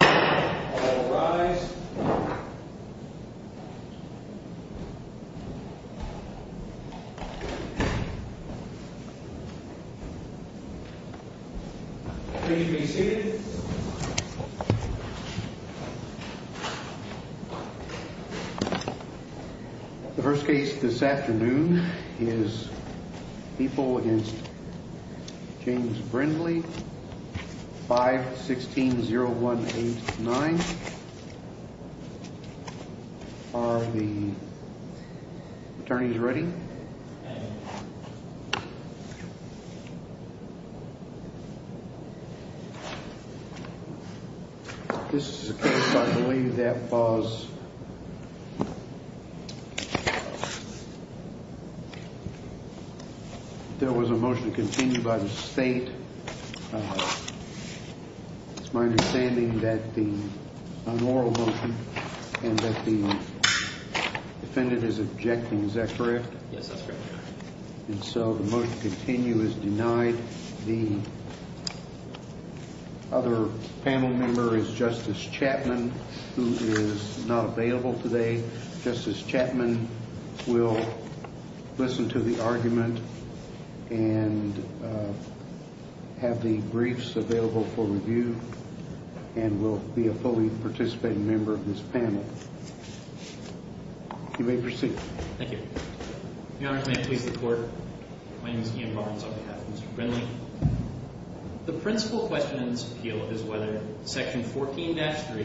All rise. The first case this afternoon is people against James Brindley 5-16-0189. Are the attorneys ready? This is a case I believe that was, there was a motion to continue by the state. It's my understanding that the unlawful motion and that the defendant is objecting, is that correct? Yes, that's correct. And so the motion to continue is denied. The other panel member is Justice Chapman, who is not available today. Justice Chapman will listen to the argument and have the briefs available for review and will be a fully participating member of this panel. You may proceed. Thank you. Your Honor, can I please the Court? My name is Ian Barnes on behalf of Mr. Brindley. The principal question in this appeal is whether Section 14-3,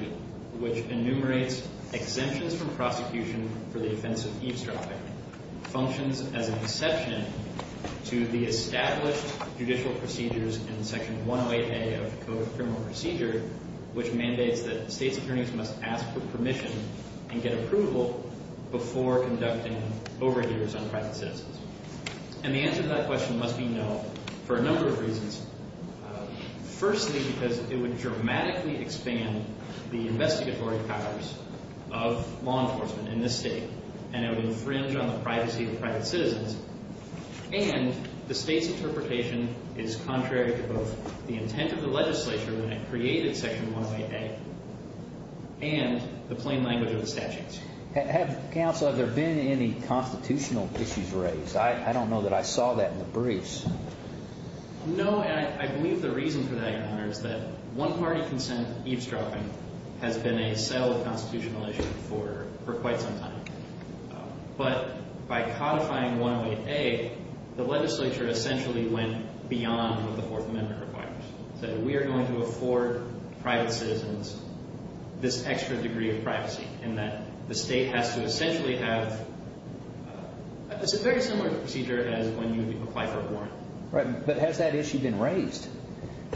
which enumerates exemptions from prosecution for the offense of eavesdropping, functions as an exception to the established judicial procedures in Section 108A of the Code of Criminal Procedure, which mandates that state's attorneys must ask for permission and get approval before conducting overhears on private citizens. And the answer to that question must be no for a number of reasons. Firstly, because it would dramatically expand the investigatory powers of law enforcement in this state, and it would infringe on the privacy of private citizens. And the state's interpretation is contrary to both the intent of the legislature when it created Section 108A and the plain language of the statutes. Counsel, have there been any constitutional issues raised? I don't know that I saw that in the briefs. No, and I believe the reason for that, Your Honor, is that one-party consent eavesdropping has been a solid constitutional issue for quite some time. But by codifying 108A, the legislature essentially went beyond what the Fourth Amendment requires. It said we are going to afford private citizens this extra degree of privacy, and that the state has to essentially have a very similar procedure as when you would apply for a warrant. Right, but has that issue been raised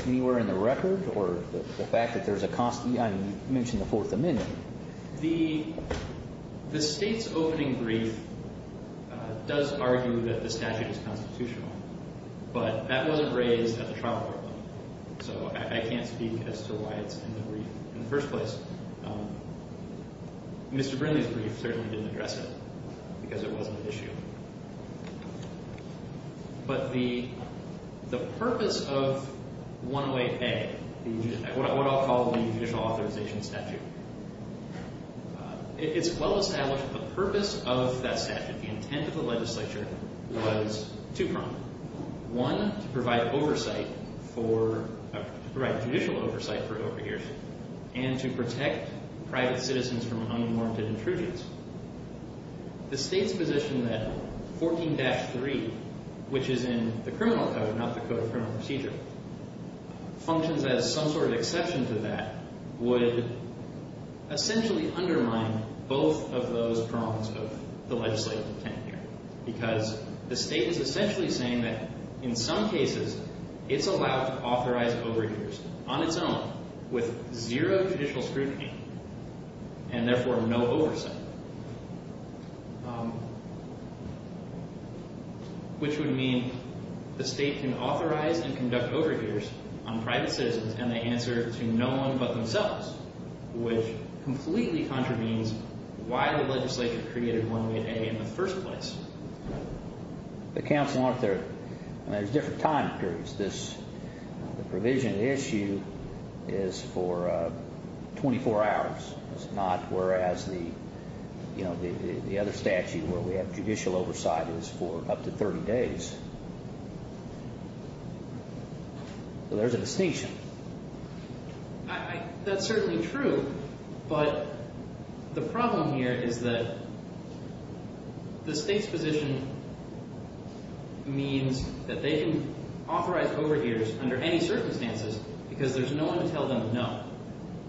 anywhere in the record, or the fact that there's a constant – I mean, you mentioned the Fourth Amendment. The state's opening brief does argue that the statute is constitutional, but that wasn't raised at the trial court level. So I can't speak as to why it's in the brief in the first place. Mr. Brindley's brief certainly didn't address it because it wasn't an issue. But the purpose of 108A, what I'll call the judicial authorization statute, it's well established that the purpose of that statute, the intent of the legislature, was two-pronged. One, to provide oversight for – to provide judicial oversight for overhearsing, and to protect private citizens from unwarranted intrusions. The state's position that 14-3, which is in the criminal code, not the Code of Criminal Procedure, functions as some sort of exception to that, would essentially undermine both of those prongs of the legislative intent here. Because the state is essentially saying that, in some cases, it's allowed to authorize overhears on its own, with zero judicial scrutiny, and therefore no oversight. Which would mean the state can authorize and conduct overhears on private citizens, and they answer to no one but themselves. Which completely contravenes why the legislature created 108A in the first place. But, counsel, aren't there – I mean, there's different time periods. This – the provision of the issue is for 24 hours. It's not whereas the, you know, the other statute where we have judicial oversight is for up to 30 days. So there's a distinction. I – that's certainly true, but the problem here is that the state's position means that they can authorize overhears under any circumstances, because there's no one to tell them no.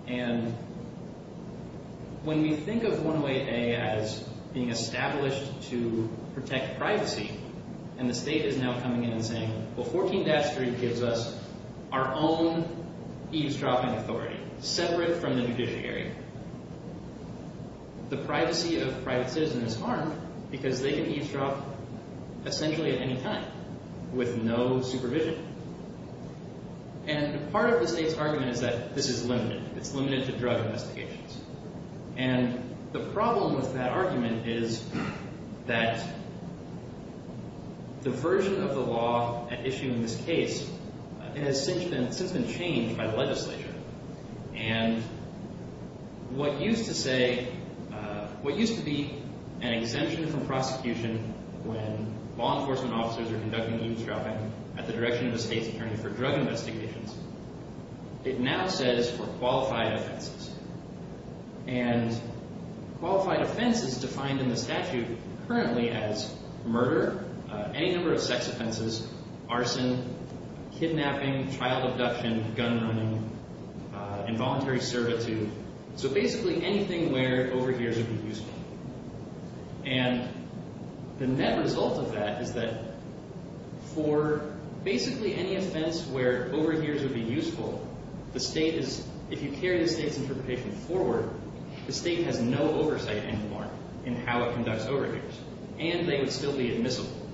And when we think of 108A as being established to protect privacy, and the state is now coming in and saying, well, 14-3 gives us our own eavesdropping authority, separate from the judiciary. The privacy of private citizens is harmed, because they can eavesdrop essentially at any time, with no supervision. And part of the state's argument is that this is limited. It's limited to drug investigations. And the problem with that argument is that the version of the law at issue in this case has since been changed by the legislature. And what used to say – what used to be an exemption from prosecution when law enforcement officers are conducting eavesdropping at the direction of a state's attorney for drug investigations, it now says for qualified offenses. And qualified offense is defined in the statute currently as murder, any number of sex offenses, arson, kidnapping, child abduction, gun running, involuntary servitude, so basically anything where overhears would be useful. And the net result of that is that for basically any offense where overhears would be useful, the state is – if you carry the state's interpretation forward, the state has no oversight anymore in how it conducts overhears. And they would still be admissible.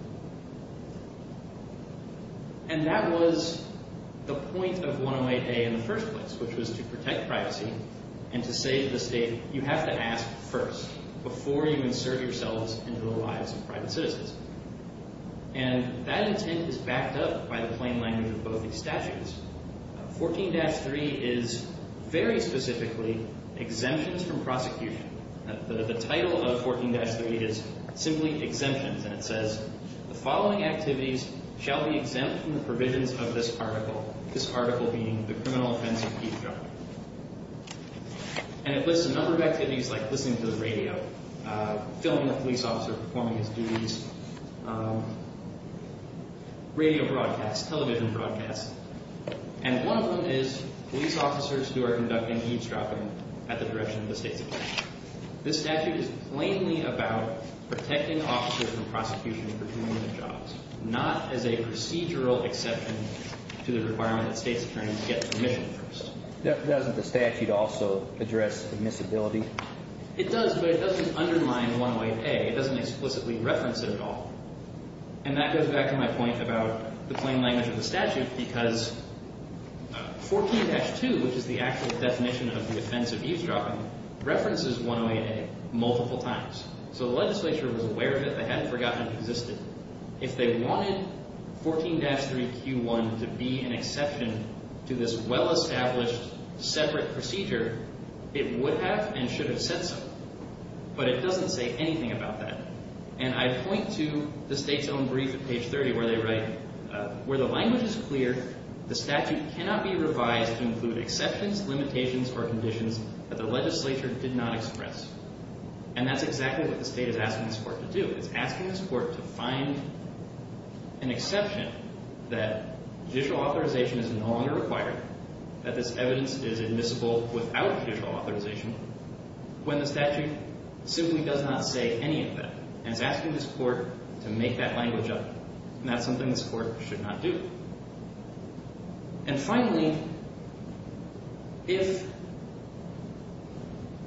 And that was the point of 108A in the first place, which was to protect privacy and to say to the state, you have to ask first before you insert yourselves into the lives of private citizens. And that intent is backed up by the plain language of both these statutes. 14-3 is very specifically exemptions from prosecution. The title of 14-3 is simply exemptions, and it says, the following activities shall be exempt from the provisions of this article, this article being the criminal offense of eavesdropping. And it lists a number of activities like listening to the radio, filming a police officer performing his duties, radio broadcasts, television broadcasts. And one of them is police officers who are conducting eavesdropping at the direction of the state's attorney. This statute is plainly about protecting officers from prosecution for doing their jobs, not as a procedural exception to the requirement that state's attorneys get permission first. Doesn't the statute also address admissibility? It does, but it doesn't underline 108A. It doesn't explicitly reference it at all. And that goes back to my point about the plain language of the statute, because 14-2, which is the actual definition of the offense of eavesdropping, references 108A multiple times. So the legislature was aware of it. They hadn't forgotten it existed. If they wanted 14-3Q1 to be an exception to this well-established separate procedure, it would have and should have said so. But it doesn't say anything about that. And I point to the state's own brief at page 30 where they write, where the language is clear, the statute cannot be revised to include exceptions, limitations, or conditions that the legislature did not express. And that's exactly what the state is asking this court to do. It's asking this court to find an exception that judicial authorization is no longer required, that this evidence is admissible without judicial authorization, when the statute simply does not say any of that. And it's asking this court to make that language up. And that's something this court should not do. And finally, if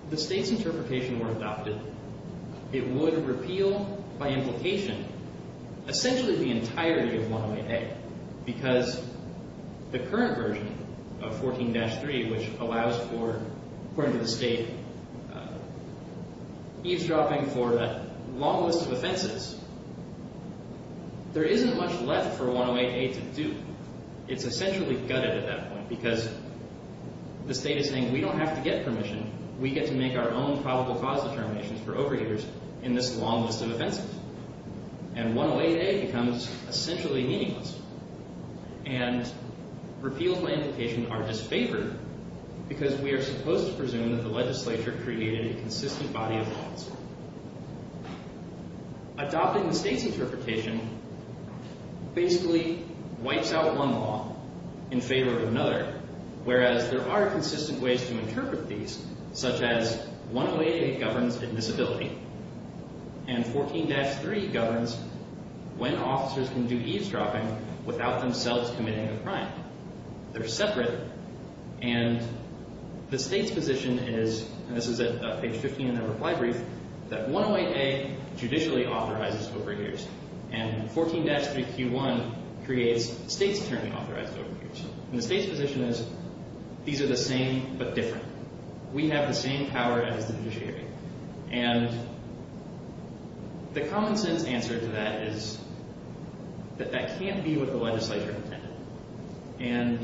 the state's interpretation were adopted, it would repeal by implication essentially the entirety of 108A. It's essentially gutted at that point because the state is saying, we don't have to get permission. We get to make our own probable cause determinations for overhears in this long list of offenses. And 108A becomes essentially meaningless. And repeal by implication are disfavored because we are supposed to presume that the legislature created a consistent body of laws. Adopting the state's interpretation basically wipes out one law in favor of another, whereas there are consistent ways to interpret these, such as 108A governs admissibility. And 14-3 governs when officers can do eavesdropping without themselves committing a crime. They're separate. And the state's position is, and this is at page 15 in their reply brief, that 108A judicially authorizes overhears. And 14-3Q1 creates states turning authorized overhears. And the state's position is, these are the same but different. We have the same power as the judiciary. And the common sense answer to that is that that can't be what the legislature intended. And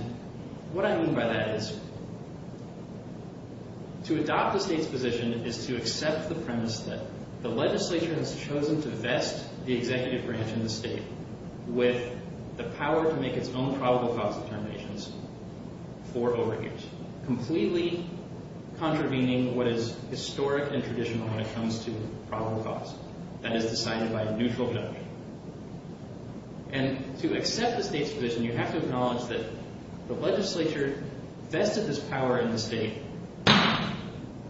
what I mean by that is, to adopt the state's position is to accept the premise that the legislature has chosen to vest the executive branch in the state with the power to make its own probable cause determinations for overhears. Completely contravening what is historic and traditional when it comes to probable cause. That is decided by a neutral deduction. And to accept the state's position, you have to acknowledge that the legislature vested this power in the state.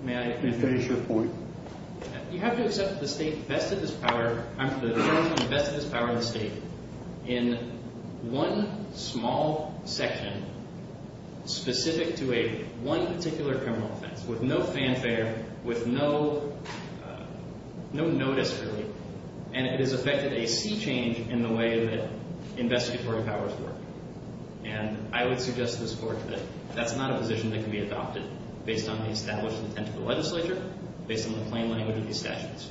May I finish? Finish your point. You have to accept that the state vested this power, I'm sorry, vested this power in the state in one small section specific to a one particular criminal offense with no fanfare, with no notice really. And it has affected a sea change in the way that investigatory powers work. And I would suggest to this court that that's not a position that can be adopted based on the established intent of the legislature, based on the plain language of these statutes.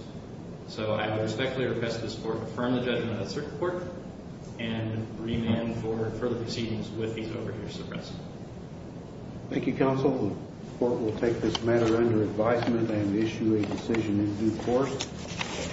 So I would respectfully request this court affirm the judgment of the circuit court and remand for further proceedings with these overhears suppressed. Thank you, counsel. The court will take this matter under advisement and issue a decision in due course.